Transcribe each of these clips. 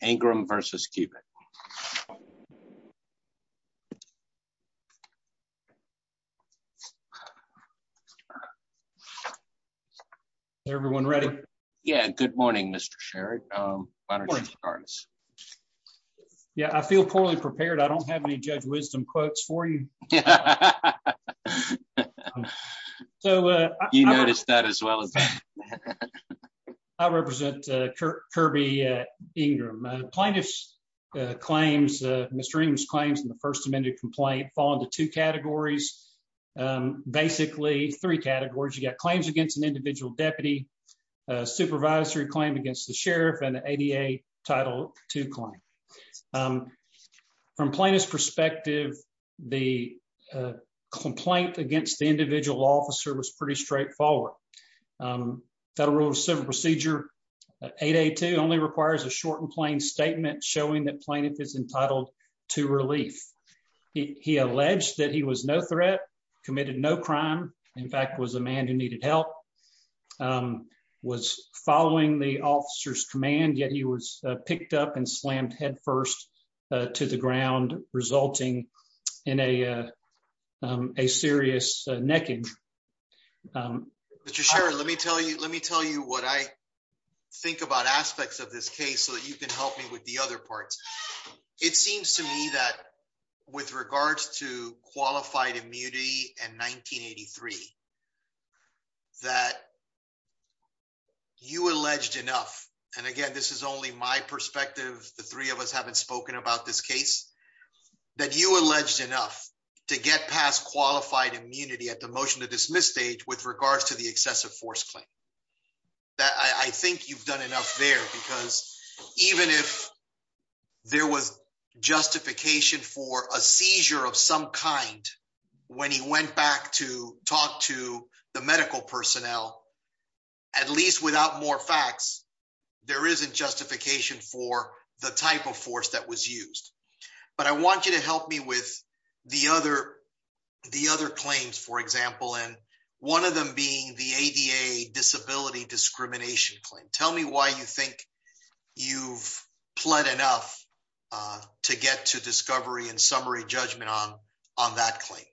Ingram v. Kubik Everyone ready? Yeah, good morning Mr. Sherrod. Yeah, I feel poorly prepared. I don't have any Judge Wisdom quotes for you. You noticed that as well as me. I represent Kirby Ingram. Plaintiff's claims, Mr. Ingram's claims in the first amended complaint fall into two categories. Basically, three categories. You've got claims against an individual deputy, a supervisory claim against the sheriff, and the ADA Title II claim. From plaintiff's perspective, the complaint against the individual officer was pretty straightforward. Federal Civil Procedure 882 only requires a short and plain statement showing that plaintiff is entitled to relief. He alleged that he was no threat, committed no crime, in fact was a man who needed help, was following the officer's command, yet he was picked up and slammed head first to the ground resulting in a serious neck injury. Mr. Sherrod, let me tell you what I think about aspects of this case so that you can help me with the other parts. It seems to me that with regards to qualified immunity in 1983, that you alleged enough, and again this is only my perspective, the three of us haven't spoken about this case, that you alleged enough to get past qualified immunity at the motion to dismiss stage with regards to the excessive force claim. I think you've done enough there because even if there was justification for a seizure of some kind when he went back to talk to the medical personnel, at least without more facts, there isn't justification for the type of force that was used. But I want you to help me with the other claims, for example, and one of them being the ADA disability discrimination claim. Tell me why you think you've pled enough to get to discovery and summary judgment on that claim.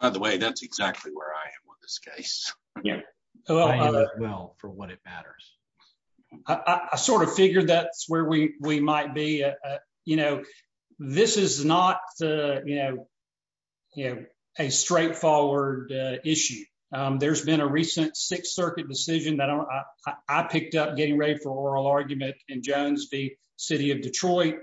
By the way, that's exactly where I am with this case. I am as well, for what it matters. I sort of figured that's where we might be. This is not a straightforward issue. There's been a recent Sixth Circuit decision that I picked up getting ready for oral argument in Jones v. City of Detroit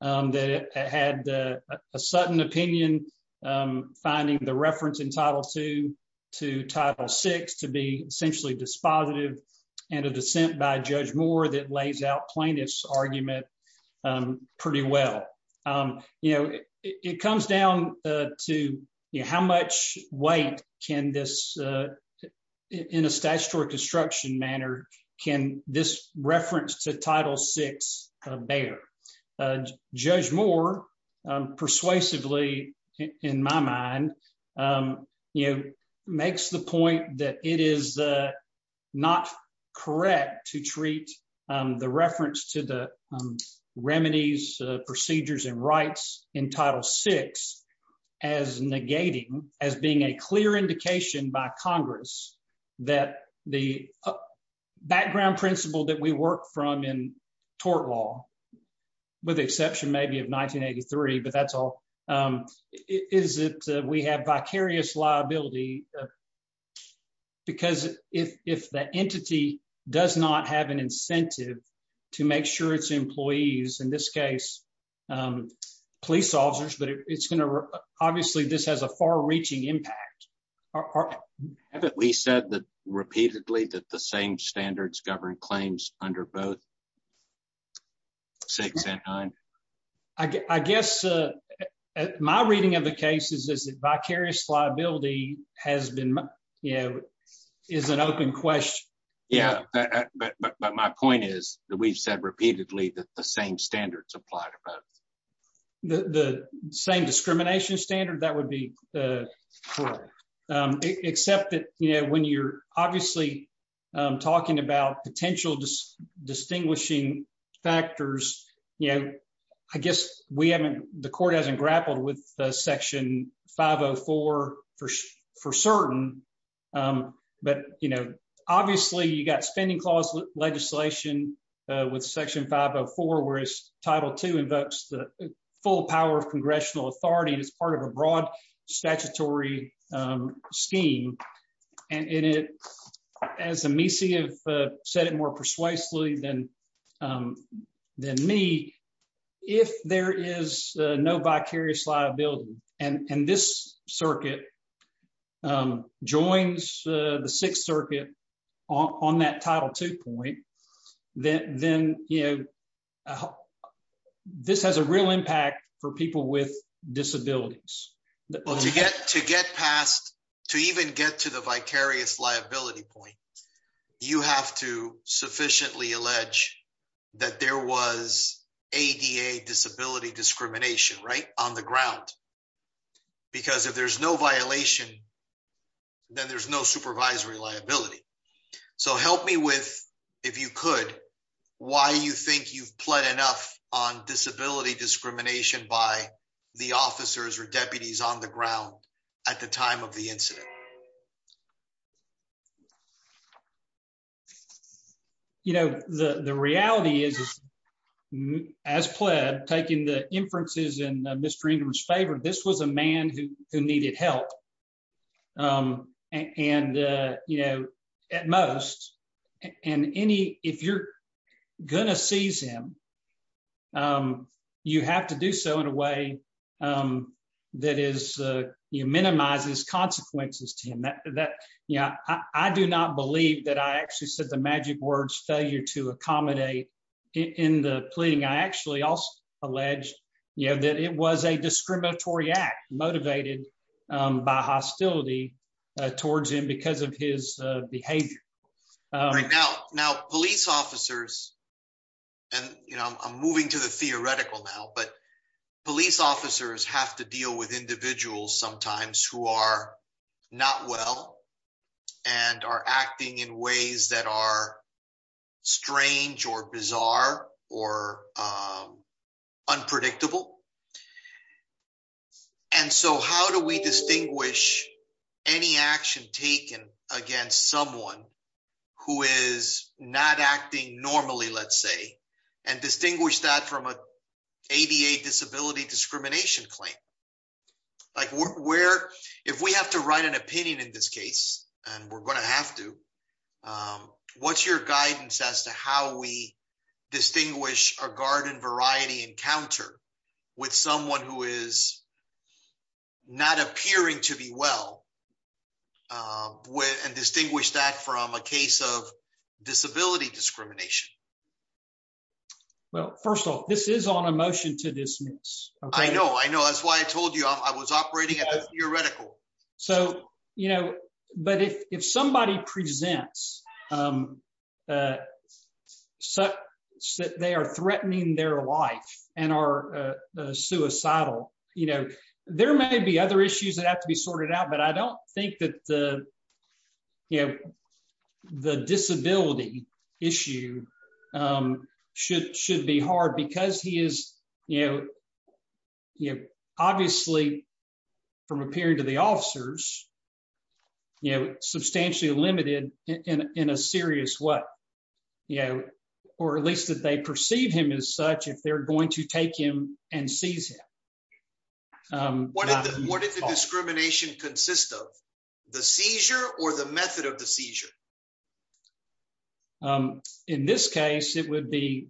that had a sudden opinion, finding the reference in Title II to Title VI to be essentially dispositive and a dissent by Judge Moore that lays out plaintiff's argument pretty well. It comes down to how much weight can this, in a statutory construction manner, can this reference to Title VI bear? Judge Moore persuasively, in my mind, makes the point that it is not correct to treat the reference to the remedies, procedures and rights in Title VI as negating, as being a clear indication by Congress that the background principle that we work from in tort law with the exception maybe of 1983, but that's all, is that we have vicarious liability. Because if the entity does not have an incentive to make sure its employees, in this case, police officers, but it's going to obviously this has a far reaching impact. We said that repeatedly that the same standards govern claims under both 6 and 9. I guess my reading of the cases is that vicarious liability has been, you know, is an open question. Yeah, but my point is that we've said repeatedly that the same standards apply to both. The same discrimination standard, that would be correct. Except that, you know, when you're obviously talking about potential distinguishing factors, you know, I guess we haven't, the court hasn't grappled with Section 504 for certain. But, you know, obviously you got spending clause legislation with Section 504 whereas Title II invokes the full power of congressional authority as part of a broad statutory scheme. And it, as Amici have said it more persuasively than me, if there is no vicarious liability, and this circuit joins the Sixth Circuit on that Title II point, then, you know, this has a real impact for people with disabilities. Well, to get past, to even get to the vicarious liability point, you have to sufficiently allege that there was ADA disability discrimination, right, on the ground. Because if there's no violation, then there's no supervisory liability. So help me with, if you could, why you think you've pled enough on disability discrimination by the officers or deputies on the ground at the time of the incident. You know, the reality is, as pled, taking the inferences in Mr. Ingram's favor, this was a man who needed help. And, you know, at most, if you're going to seize him, you have to do so in a way that minimizes consequences to him. I do not believe that I actually said the magic words failure to accommodate in the pleading. I actually also alleged that it was a discriminatory act motivated by hostility towards him because of his behavior. Now, police officers, and I'm moving to the theoretical now, but police officers have to deal with individuals sometimes who are not well and are acting in ways that are strange or bizarre or unpredictable. And so how do we distinguish any action taken against someone who is not acting normally, let's say, and distinguish that from an ADA disability discrimination claim? Like where, if we have to write an opinion in this case, and we're going to have to, what's your guidance as to how we distinguish a garden variety encounter with someone who is not appearing to be well, and distinguish that from a case of disability discrimination? Well, first of all, this is on a motion to dismiss. I know, I know. That's why I told you I was operating at a theoretical. So, you know, but if somebody presents that they are threatening their life and are suicidal, you know, there may be other issues that have to be sorted out. But I don't think that the, you know, the disability issue should be hard because he is, you know, obviously, from appearing to the officers, you know, substantially limited in a serious way, you know, or at least that they perceive him as such if they're going to take him and seize him. What is the discrimination consist of the seizure or the method of the seizure. In this case, it would be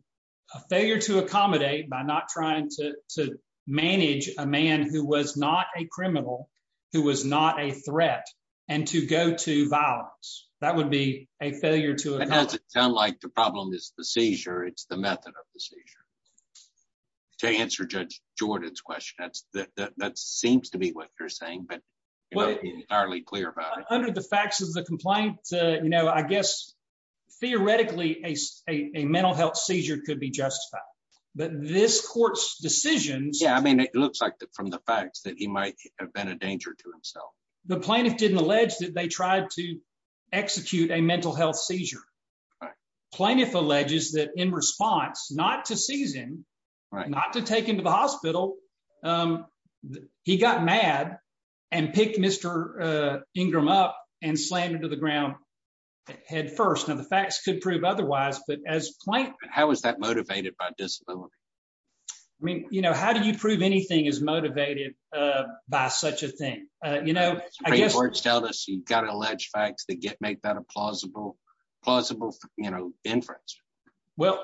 a failure to accommodate by not trying to manage a man who was not a criminal, who was not a threat, and to go to violence, that would be a failure to it doesn't sound like the problem is the seizure it's the method of the seizure. To answer Judge Jordan's question that's that that seems to be what you're saying but what are we clear about under the facts of the complaint, you know, I guess, theoretically, a mental health seizure could be justified, but this court's decisions. Yeah, I mean it looks like that from the facts that he might have been a danger to himself. The plaintiff didn't allege that they tried to execute a mental health seizure. Plaintiff alleges that in response, not to seize him right not to take him to the hospital. He got mad and pick Mr. Ingram up and slammed into the ground. Head first and the facts could prove otherwise but as plain. How is that motivated by disability. I mean, you know, how do you prove anything is motivated by such a thing. You know, I guess we're telling us you've got an alleged facts that get make that a plausible, plausible, you know, inference. Well,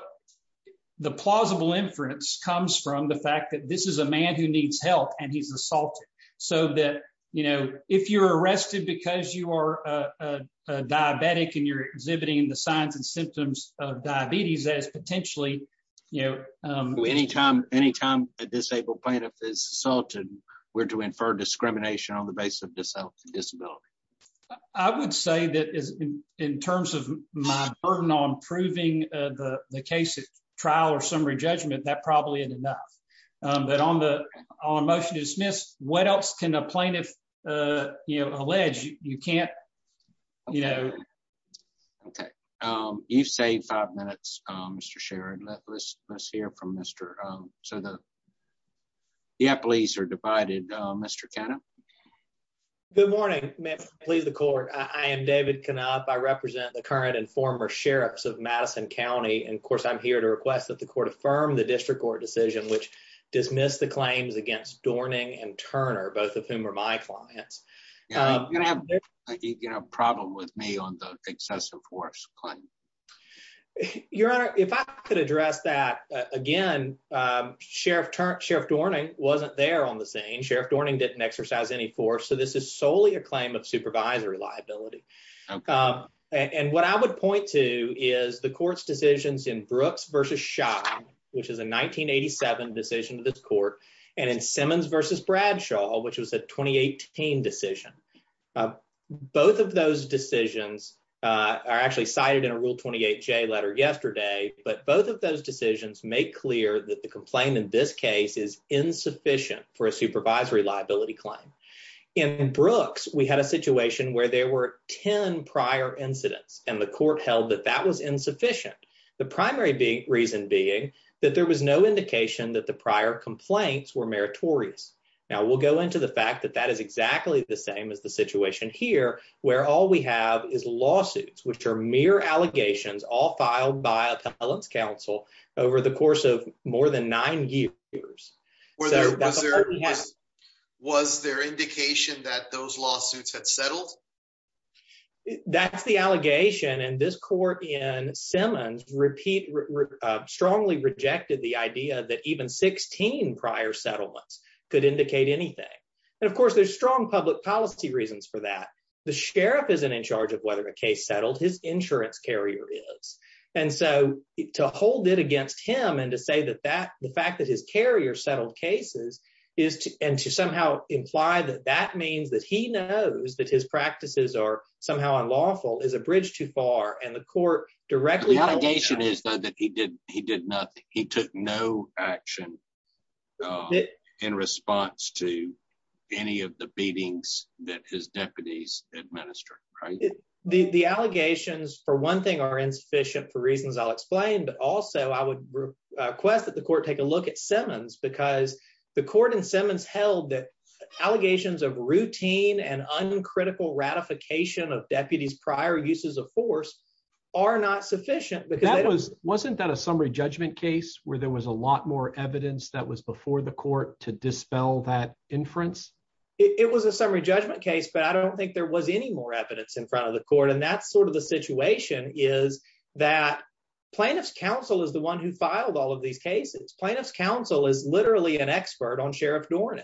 the plausible inference comes from the fact that this is a man who needs help and he's assaulted. So that, you know, if you're arrested because you are a diabetic and you're exhibiting the signs and symptoms of diabetes as potentially, you know, anytime, anytime, a disabled plaintiff is assaulted were to infer discrimination on the basis of this disability. I would say that is in terms of my burden on proving the case of trial or summary judgment that probably isn't enough, but on the motion to dismiss what else can a plaintiff, you know, alleged you can't, you know, Okay. You've saved five minutes, Mr Sharon let's let's hear from Mr. So the. Yeah, please are divided. Mr Canada. Good morning, please the court. I am David cannot I represent the current and former sheriffs of Madison County and of course I'm here to request that the court affirm the district court decision which dismiss the claims against Dorning and Turner, both of whom are my clients. And I have a problem with me on the excessive force claim. Your Honor, if I could address that, again, Sheriff Sheriff Dorning wasn't there on the scene Sheriff Dorning didn't exercise any force so this is solely a claim of supervisory liability. And what I would point to is the courts decisions in Brooks versus shot, which is a 1987 decision to this court and in Simmons versus Bradshaw, which was a 2018 decision. Both of those decisions are actually cited in a rule 28 J letter yesterday, but both of those decisions make clear that the complaint in this case is insufficient for a supervisory liability claim. In Brooks, we had a situation where there were 10 prior incidents and the court held that that was insufficient. The primary big reason being that there was no indication that the prior complaints were meritorious. Now we'll go into the fact that that is exactly the same as the situation here, where all we have is lawsuits, which are mere allegations all filed by appellants council over the course of more than nine years. Was there indication that those lawsuits had settled. That's the allegation and this court in Simmons repeat strongly rejected the idea that even 16 prior settlements could indicate anything. And of course there's strong public policy reasons for that the sheriff isn't in charge of whether the case settled his insurance carrier is. And so, to hold it against him and to say that that the fact that his carrier settled cases is and to somehow imply that that means that he knows that his practices are somehow unlawful is a bridge too far and the court directly. Is that he did, he did not, he took no action. In response to any of the beatings that his deputies administer. The allegations for one thing are insufficient for reasons I'll explain but also I would request that the court take a look at Simmons because the court in Simmons held that allegations of routine and uncritical ratification of deputies prior uses of force are not sufficient because that was wasn't that a summary judgment case where there was a lot more evidence that was before the court to dispel that inference. It was a summary judgment case but I don't think there was any more evidence in front of the court and that's sort of the situation is that plaintiff's counsel is the one who filed all of these cases plaintiff's counsel is literally an expert on sheriff Dornan.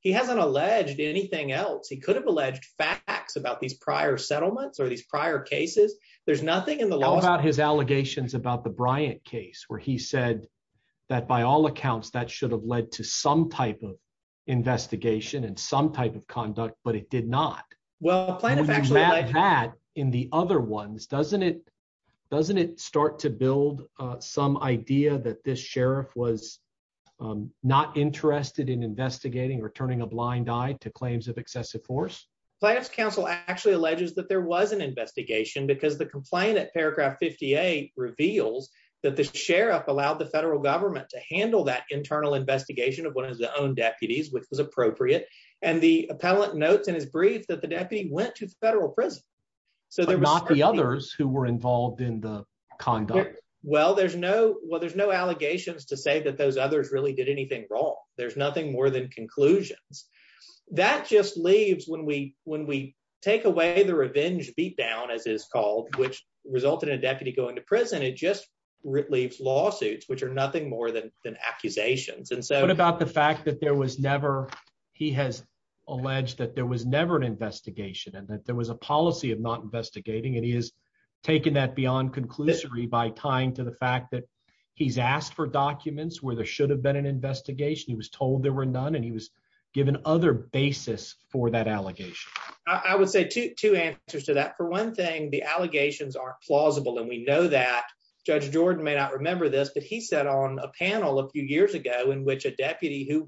He hasn't alleged anything else he could have alleged facts about these prior settlements or these prior cases, there's nothing in the law about his allegations about the Bryant case where he said that by all accounts that should have led to some type of investigation and some type of conduct but it did not well plaintiff actually had in the other ones doesn't it doesn't it start to build some idea that this sheriff was not interested in investigating or turning a blind eye to claims of excessive force plans plaintiff's counsel actually alleges that there was an investigation because the complainant paragraph 58 reveals that the sheriff allowed the federal government to handle that internal investigation of one of the own deputies which was appropriate, and the appellant notes in his brief that the deputy went to the federal prison. So there was not the others who were involved in the conduct. Well there's no well there's no allegations to say that those others really did anything wrong. There's nothing more than conclusions. That just leaves when we, when we take away the revenge beat down as is called, which resulted in a deputy going to prison it just leaves lawsuits which are nothing more than than accusations and so what about the fact that there was never. He has alleged that there was never an investigation and that there was a policy of not investigating and he has taken that beyond conclusively by tying to the fact that he's asked for documents where there should have been an investigation he was told there were none and he was given other basis for that allegation, I would say to two answers to that for one thing the allegations are plausible and we know that Judge Jordan may not remember this but he said on a panel a few years ago in which a you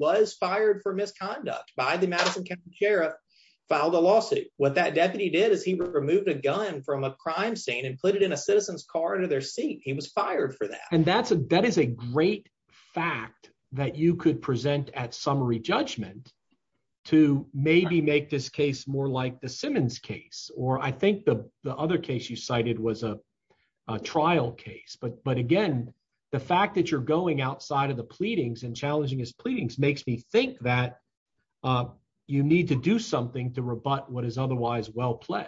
present at summary judgment to maybe make this case more like the Simmons case, or I think the other case you cited was a trial case but but again, the fact that you're going outside of the pleadings and challenging his pleadings makes me think that you need to do something to rebut what is otherwise well played.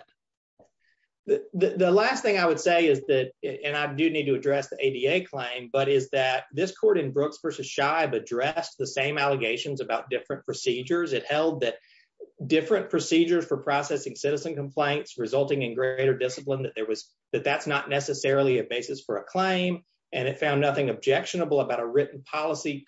The last thing I would say is that, and I do need to address the ADA claim but is that this court in Brooks versus shy of address the same allegations about different procedures it held that different procedures for processing citizen complaints resulting in greater discipline that there was that that's not necessarily a basis for a claim, and it found nothing objectionable about a written policy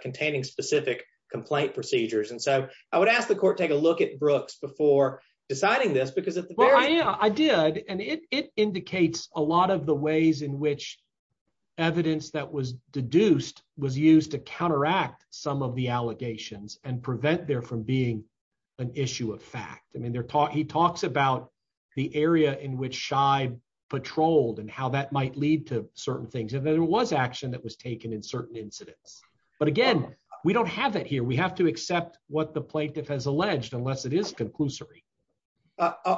containing specific complaint procedures and so I would ask the court take a look at Brooks before deciding this because I did, and it indicates a lot of the ways in which evidence that was deduced was used to counteract, some of the allegations and prevent there from being an issue of fact I mean they're taught he talks about the area in which shy patrolled and how that might lead to certain things and there was action that was taken in certain incidents. But again, we don't have it here we have to accept what the plaintiff has alleged unless it is conclusory.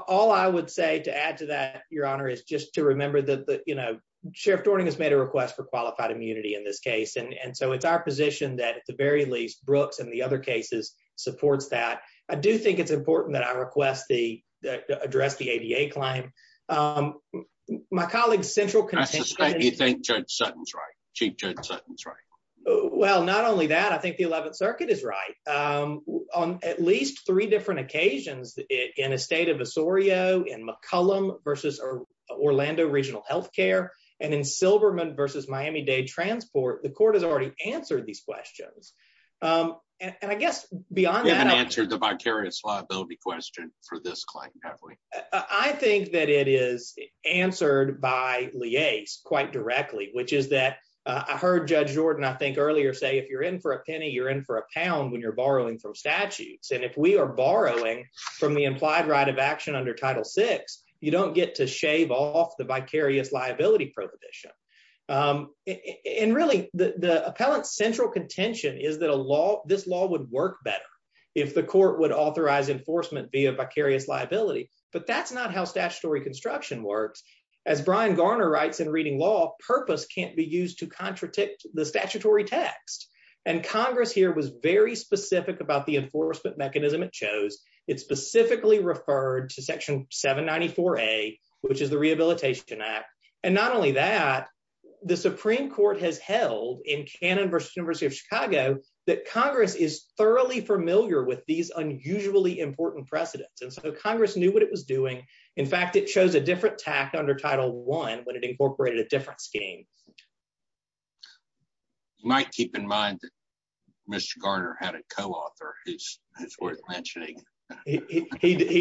All I would say to add to that, Your Honor is just to remember that the, you know, Sheriff Dorning has made a request for qualified immunity in this case and so it's our position that at the very least Brooks and the other cases supports that I do think it's important that I request the address the ADA claim. My colleagues central. You think Judge Sutton's right. Chief Judge Sutton's right. Well, not only that, I think the 11th Circuit is right. On at least three different occasions in a state of Osorio in McCollum versus Orlando regional health care, and in Silverman versus Miami Dade transport the court has already answered these questions. And I guess beyond that answer the vicarious liability question for this claim. I think that it is answered by liaise quite directly, which is that I heard Judge Jordan I think earlier say if you're in for a penny you're in for a pound when you're borrowing from statutes and if we are borrowing from the implied right of action under title six, you don't get to shave off the vicarious liability prohibition. And really, the appellant central contention is that a law, this law would work better if the court would authorize enforcement via vicarious liability, but that's not how statutory construction works as Brian Garner writes in reading law purpose can't be used to contradict the statutory text and Congress here was very specific about the enforcement mechanism it chose it specifically referred to section 794 a, which is the Rehabilitation Act. And not only that, the Supreme Court has held in Canada versus University of Chicago that Congress is thoroughly familiar with these unusually important precedents and so Congress knew what it was doing. In fact, it shows a different tack under title one when it incorporated a different scheme. Might keep in mind. Mr Garner had a co author is worth mentioning. He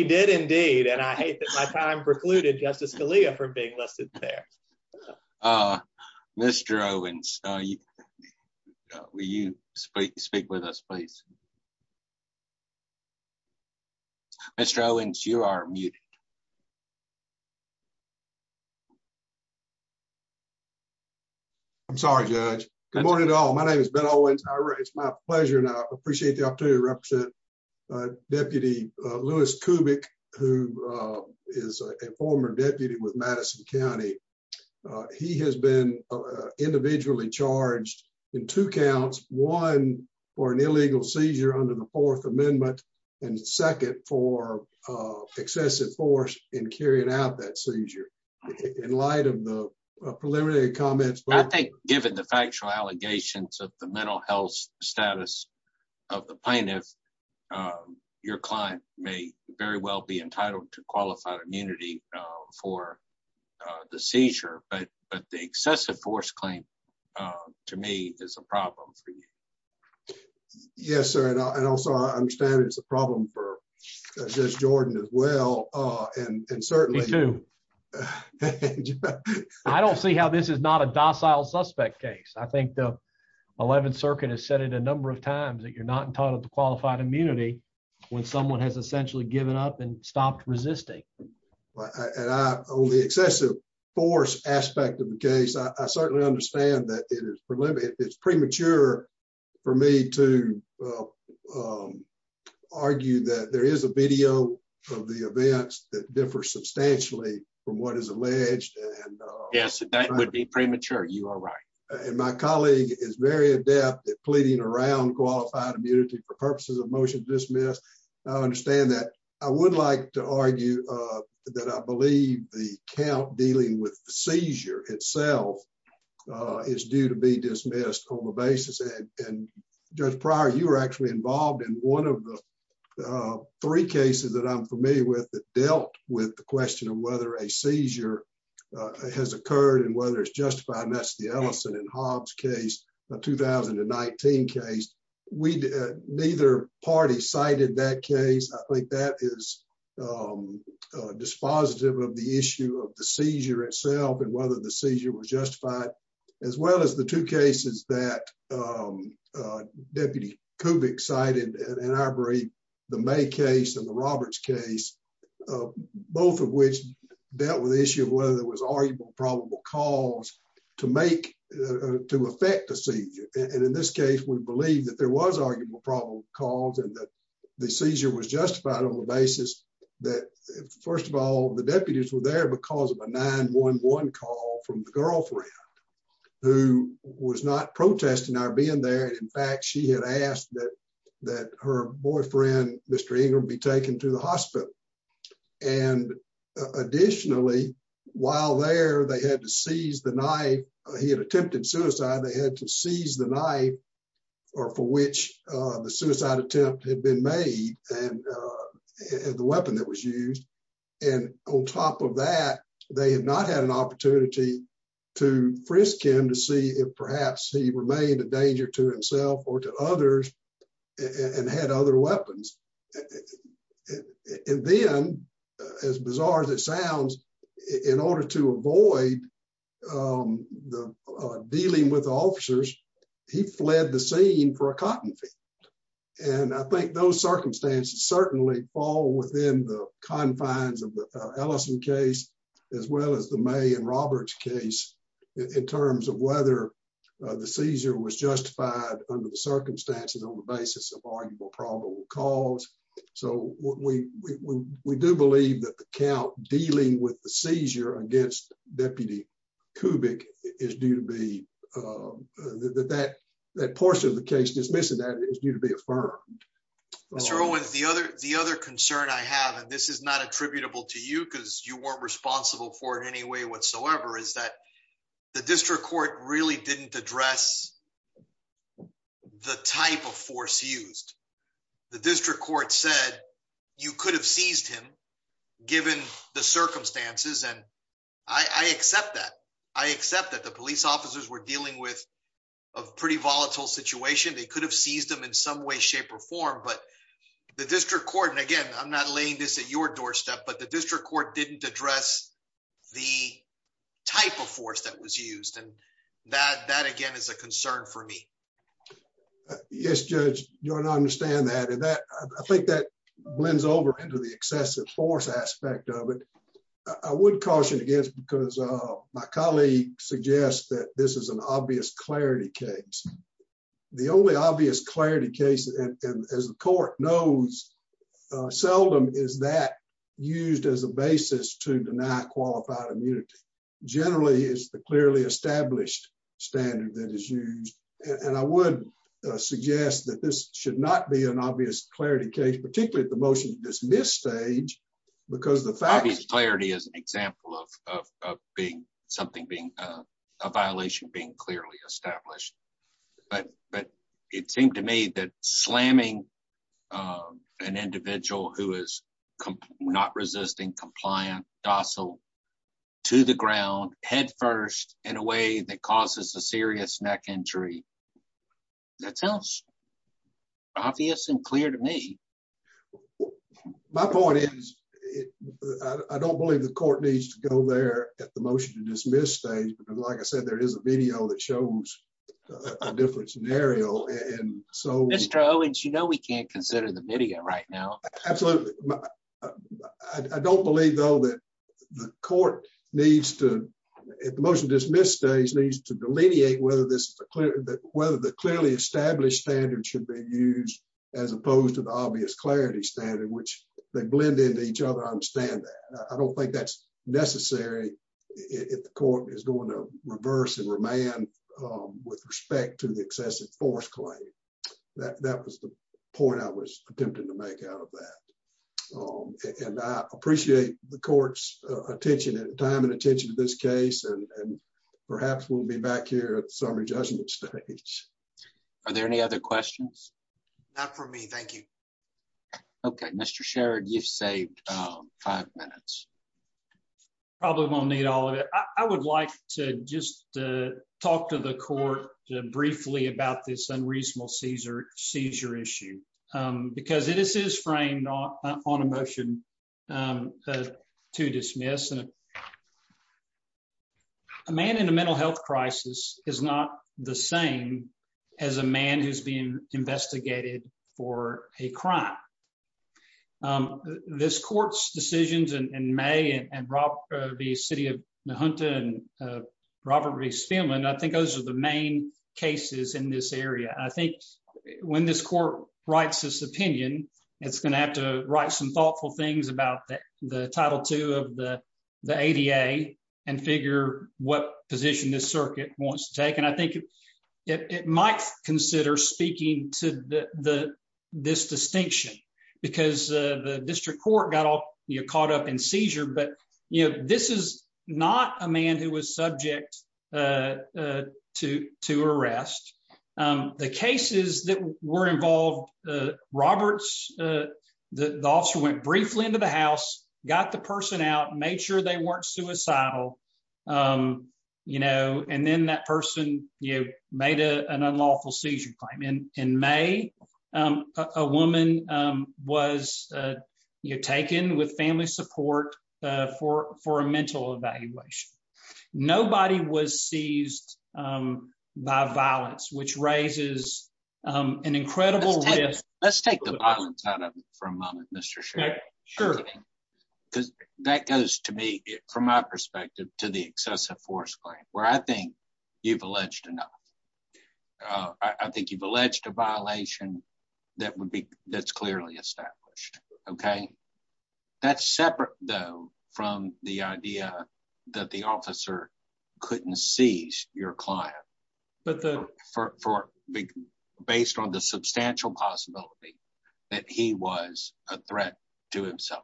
did indeed and I hate that my time precluded Justice Scalia for being listed there. Mr Owens. Will you speak speak with us please. Mr Owens you are muted. I'm sorry judge. Good morning at all. My name has been always my pleasure and I appreciate the opportunity to represent deputy Lewis cubic, who is a former deputy with Madison County. He has been individually charged in two counts, one for an illegal seizure under the Fourth Amendment, and second for excessive force in carrying out that seizure. In light of the preliminary comments but I think, given the factual allegations of the mental health status of the plaintiff, your client may very well be entitled to qualified immunity for the seizure, but, but the excessive force claim to me is a problem for you. Yes, sir. And also I understand it's a problem for Jordan as well. And certainly to. I don't see how this is not a docile suspect case I think the 11th Circuit has said it a number of times that you're not entitled to qualified immunity. When someone has essentially given up and stopped resisting. Only excessive force aspect of the case I certainly understand that it is preliminary it's premature for me to argue that there is a video of the events that differ substantially from what is alleged. Yes, that would be premature you are right. And my colleague is very adept at pleading around qualified immunity for purposes of motion dismissed. I understand that. I would like to argue that I believe the count dealing with seizure itself is due to be dismissed on the basis and just prior you were actually involved in one of the three cases that I'm familiar with that dealt with the question of whether a seizure has occurred and whether it's justified and that's the Ellison and Hobbs case. The 2019 case we did neither party cited that case. I think that is dispositive of the issue of the seizure itself and whether the seizure was justified as well as the two cases that deputy Kovac cited in our brain. The May case and the Roberts case, both of which dealt with the issue of whether there was arguable probable cause to make to affect the seizure. And in this case, we believe that there was arguable probable calls and that the seizure was justified on the basis that, first of all, the deputies were there because of a 911 call from the girlfriend. Who was not protesting our being there. In fact, she had asked that that her boyfriend, Mr. Ingram be taken to the hospital. And additionally, while there, they had to seize the knife. He had attempted suicide. They had to seize the knife or for which the suicide attempt had been made and the weapon that was used. And on top of that, they had not had an opportunity to frisk him to see if perhaps he remained a danger to himself or to others and had other weapons. And then, as bizarre as it sounds, in order to avoid the dealing with officers, he fled the scene for a cotton field. And I think those circumstances certainly fall within the confines of the Ellison case, as well as the May and Roberts case in terms of whether the seizure was justified under the circumstances on the basis of arguable probable cause. So we do believe that the count dealing with the seizure against Deputy Kubik is due to be that that that portion of the case dismissing that is due to be affirmed. The other the other concern I have, and this is not attributable to you because you weren't responsible for it in any way whatsoever, is that the district court really didn't address the type of force used. The district court said you could have seized him, given the circumstances and I accept that I accept that the police officers were dealing with a pretty volatile situation, they could have seized them in some way, shape or form, but the district court and again I'm not laying this at your doorstep, but the district court didn't address the type of force that was used and that that again is a concern for me. Yes, Judge, you don't understand that and that I think that blends over into the excessive force aspect of it. I would caution against because my colleague suggests that this is an obvious clarity case. The only obvious clarity case, as the court knows, seldom is that used as a basis to deny qualified immunity generally is the clearly established standard that is used, and I would suggest that this should not be an obvious clarity case, particularly at the motion this stage, because the fact is clarity is an example of being something being a violation being clearly established. But, but it seemed to me that slamming an individual who is not resisting compliant docile to the ground headfirst in a way that causes a serious neck injury. That sounds obvious and clear to me. My point is, I don't believe the court needs to go there at the motion to dismiss stage but like I said there is a video that shows a different scenario and so Mr Owens you know we can't consider the video right now. Absolutely. I don't believe, though, that the court needs to at the motion dismissed days needs to delineate whether this is a clear that whether the clearly established standard should be used as opposed to the obvious clarity standard which they blend into each other I don't think that's necessary. If the court is going to reverse and remain with respect to the excessive force claim that that was the point I was attempting to make out of that. And I appreciate the court's attention and time and attention to this case and perhaps we'll be back here at the summary judgment stage. Are there any other questions for me. Thank you. Okay, Mr Sherrod you've saved five minutes. Probably won't need all of it. I would like to just talk to the court briefly about this unreasonable Caesar seizure issue, because it is is framed on a motion to dismiss and a man in a mental health crisis is not the same as a man who's been investigated for a crime. This court's decisions and may and Rob, the city of the hunter and robbery spam and I think those are the main cases in this area, I think, when this court writes this opinion, it's going to have to write some thoughtful things about the title to have the this distinction, because the district court got all your caught up in seizure but you know this is not a man who was subject to to arrest the cases that were involved. Roberts, the officer went briefly into the house, got the person out made sure they weren't suicidal. You know, and then that person, you made a an unlawful seizure claim in in May, a woman was taken with family support for for a mental evaluation. Nobody was seized by violence, which raises an incredible. Let's take the violence out of it for a moment, Mr. Sure, because that goes to me, from my perspective, to the excessive force claim where I think you've alleged enough. I think you've alleged a violation that would be that's clearly established. Okay. That's separate, though, from the idea that the officer couldn't see your client, but the for big based on the substantial possibility that he was a threat to himself.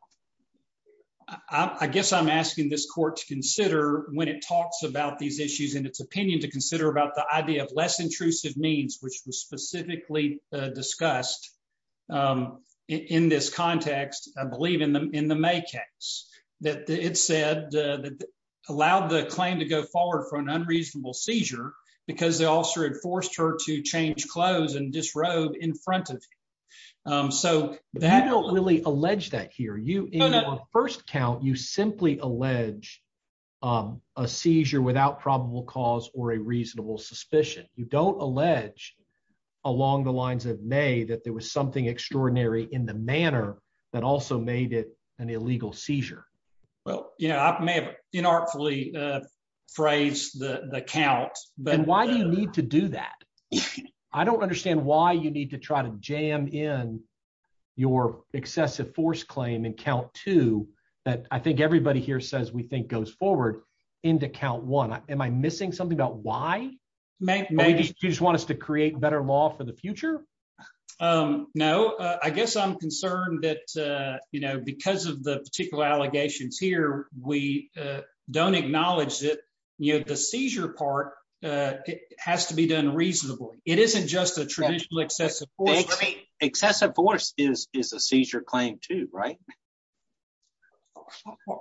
I guess I'm asking this court to consider when it talks about these issues in its opinion to consider about the idea of less intrusive means which was specifically discussed in this context, I believe in the in the May case that it said that allowed the claim to go forward for an unreasonable seizure, because they also had forced her to change clothes and disrobe in front of. So, that don't really allege that here you first count you simply allege a seizure without probable cause or a reasonable suspicion, you don't allege along the lines of may that there was something extraordinary in the manner that also made it an illegal seizure. Well, you know, I may have been artfully phrase the count, but why do you need to do that. I don't understand why you need to try to jam in your excessive force claim and count to that I think everybody here says we think goes forward into count one, am I missing something about why make me just want us to create better law for the future. No, I guess I'm concerned that, you know, because of the particular allegations here, we don't acknowledge that you have the seizure part has to be done reasonably, it isn't just a traditional excessive excessive force is is a seizure claim to right.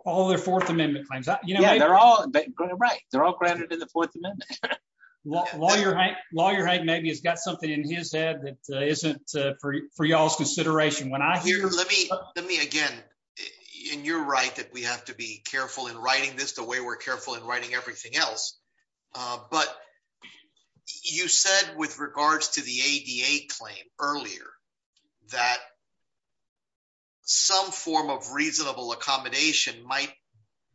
All their Fourth Amendment claims that you know they're all right, they're all granted in the Fourth Amendment. Well, while you're right, while you're right maybe he's got something in his head that isn't for for y'all's consideration when I hear let me, let me again. You're right that we have to be careful in writing this the way we're careful in writing everything else. But you said with regards to the ADA claim earlier that some form of reasonable accommodation might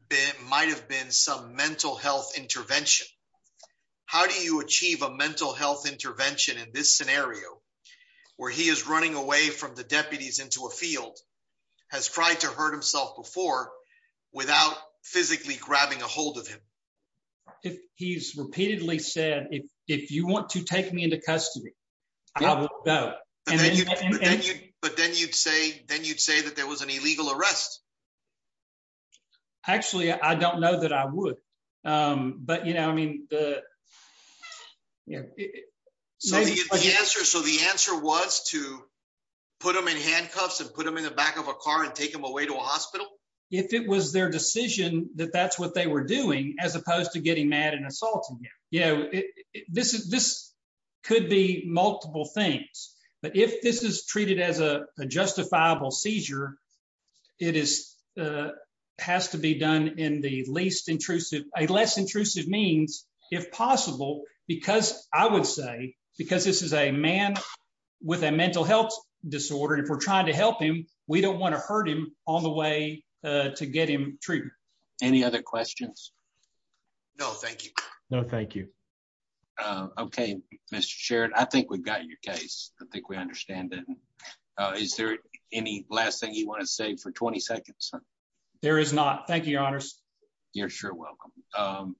be might have been some mental health intervention. How do you achieve a mental health intervention in this scenario where he is running away from the deputies into a field has tried to hurt himself before, without physically grabbing a hold of him. If he's repeatedly said if if you want to take me into custody. But then you'd say, then you'd say that there was an illegal arrest. Actually, I don't know that I would. But you know I mean, the answer so the answer was to put them in handcuffs and put them in the back of a car and take them away to a hospital. If it was their decision that that's what they were doing, as opposed to getting mad and assault. Yeah, yeah, this is this could be multiple things, but if this is treated as a justifiable seizure. It is has to be done in the least intrusive a less intrusive means, if possible, because I would say, because this is a man with a mental health disorder and for trying to help him. We don't want to hurt him on the way to get him treated. Any other questions. No, thank you. No, thank you. Okay, Mr. Sherrod I think we've got your case, I think we understand that. Is there any last thing you want to say for 20 seconds. There is not. Thank you, Your Honor. You're sure welcome.